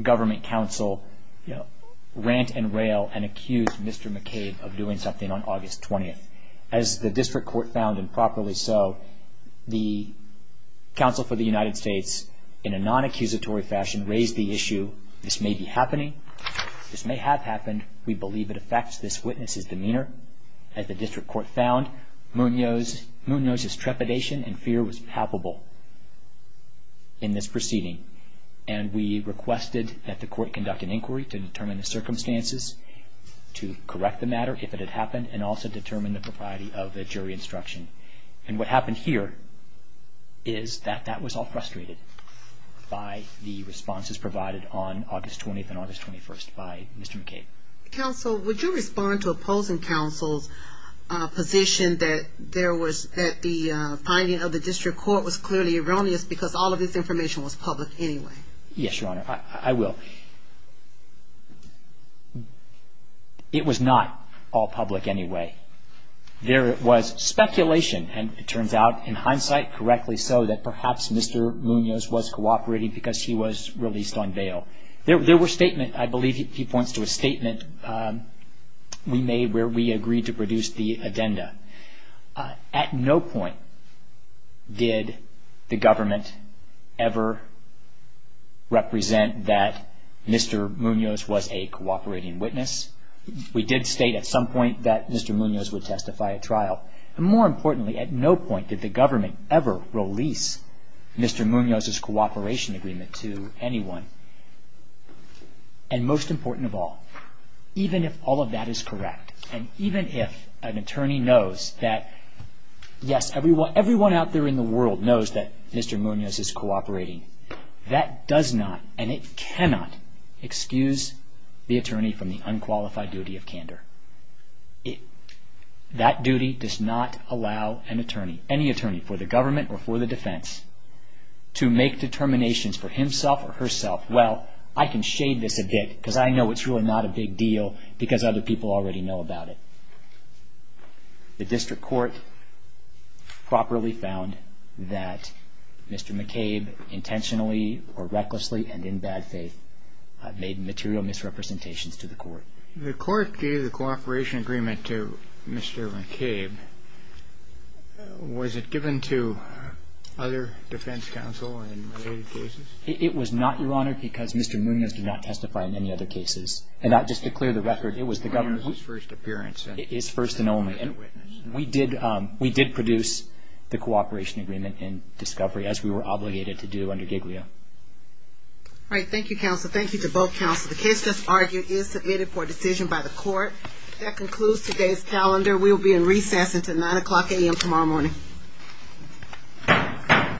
government counsel rant and rail and accuse Mr. McCabe of doing something on August 20. As the district court found, and properly so, the counsel for the United States, in a non-accusatory fashion, raised the issue. This may be happening. This may have happened. We believe it affects this witness's demeanor. As the district court found, Munoz's trepidation and fear was palpable in this proceeding, and we requested that the court conduct an inquiry to determine the circumstances to correct the matter, if it had happened, and also determine the propriety of the jury instruction. And what happened here is that that was all frustrated by the responses provided on August 20 and August 21 by Mr. McCabe. Counsel, would you respond to opposing counsel's position that there was, that the finding of the district court was clearly erroneous because all of this information was public anyway? Yes, Your Honor. I will. It was not all public anyway. There was speculation, and it turns out, in hindsight, correctly so, that perhaps Mr. Munoz was cooperating because he was released on bail. There were statements, I believe he points to a statement we made where we agreed to produce the addenda. At no point did the government ever represent that Mr. Munoz was a cooperating witness. We did state at some point that Mr. Munoz would testify at trial. And more importantly, at no point did the government ever release Mr. Munoz's cooperation agreement to anyone. And most important of all, even if all of that is correct, and even if an attorney knows that, yes, everyone out there in the world knows that Mr. Munoz is cooperating, that does not, and it cannot, excuse the attorney from the unqualified duty of candor. That duty does not allow an attorney, any attorney, for the government or for the defense, to make determinations for himself or herself, well, I can shade this a bit because I know it's really not a big deal because other people already know about it. The district court properly found that Mr. McCabe intentionally or recklessly and in bad faith made material misrepresentations to the court. The court gave the cooperation agreement to Mr. McCabe. Was it given to other defense counsel in related cases? It was not, Your Honor, because Mr. Munoz did not testify in any other cases. And just to clear the record, it was the government's first appearance. His first and only. And we did produce the cooperation agreement in discovery as we were obligated to do under Giglio. All right, thank you, counsel. Thank you to both counsel. The case that's argued is submitted for decision by the court. That concludes today's calendar. We will be in recess until 9 o'clock a.m. tomorrow morning.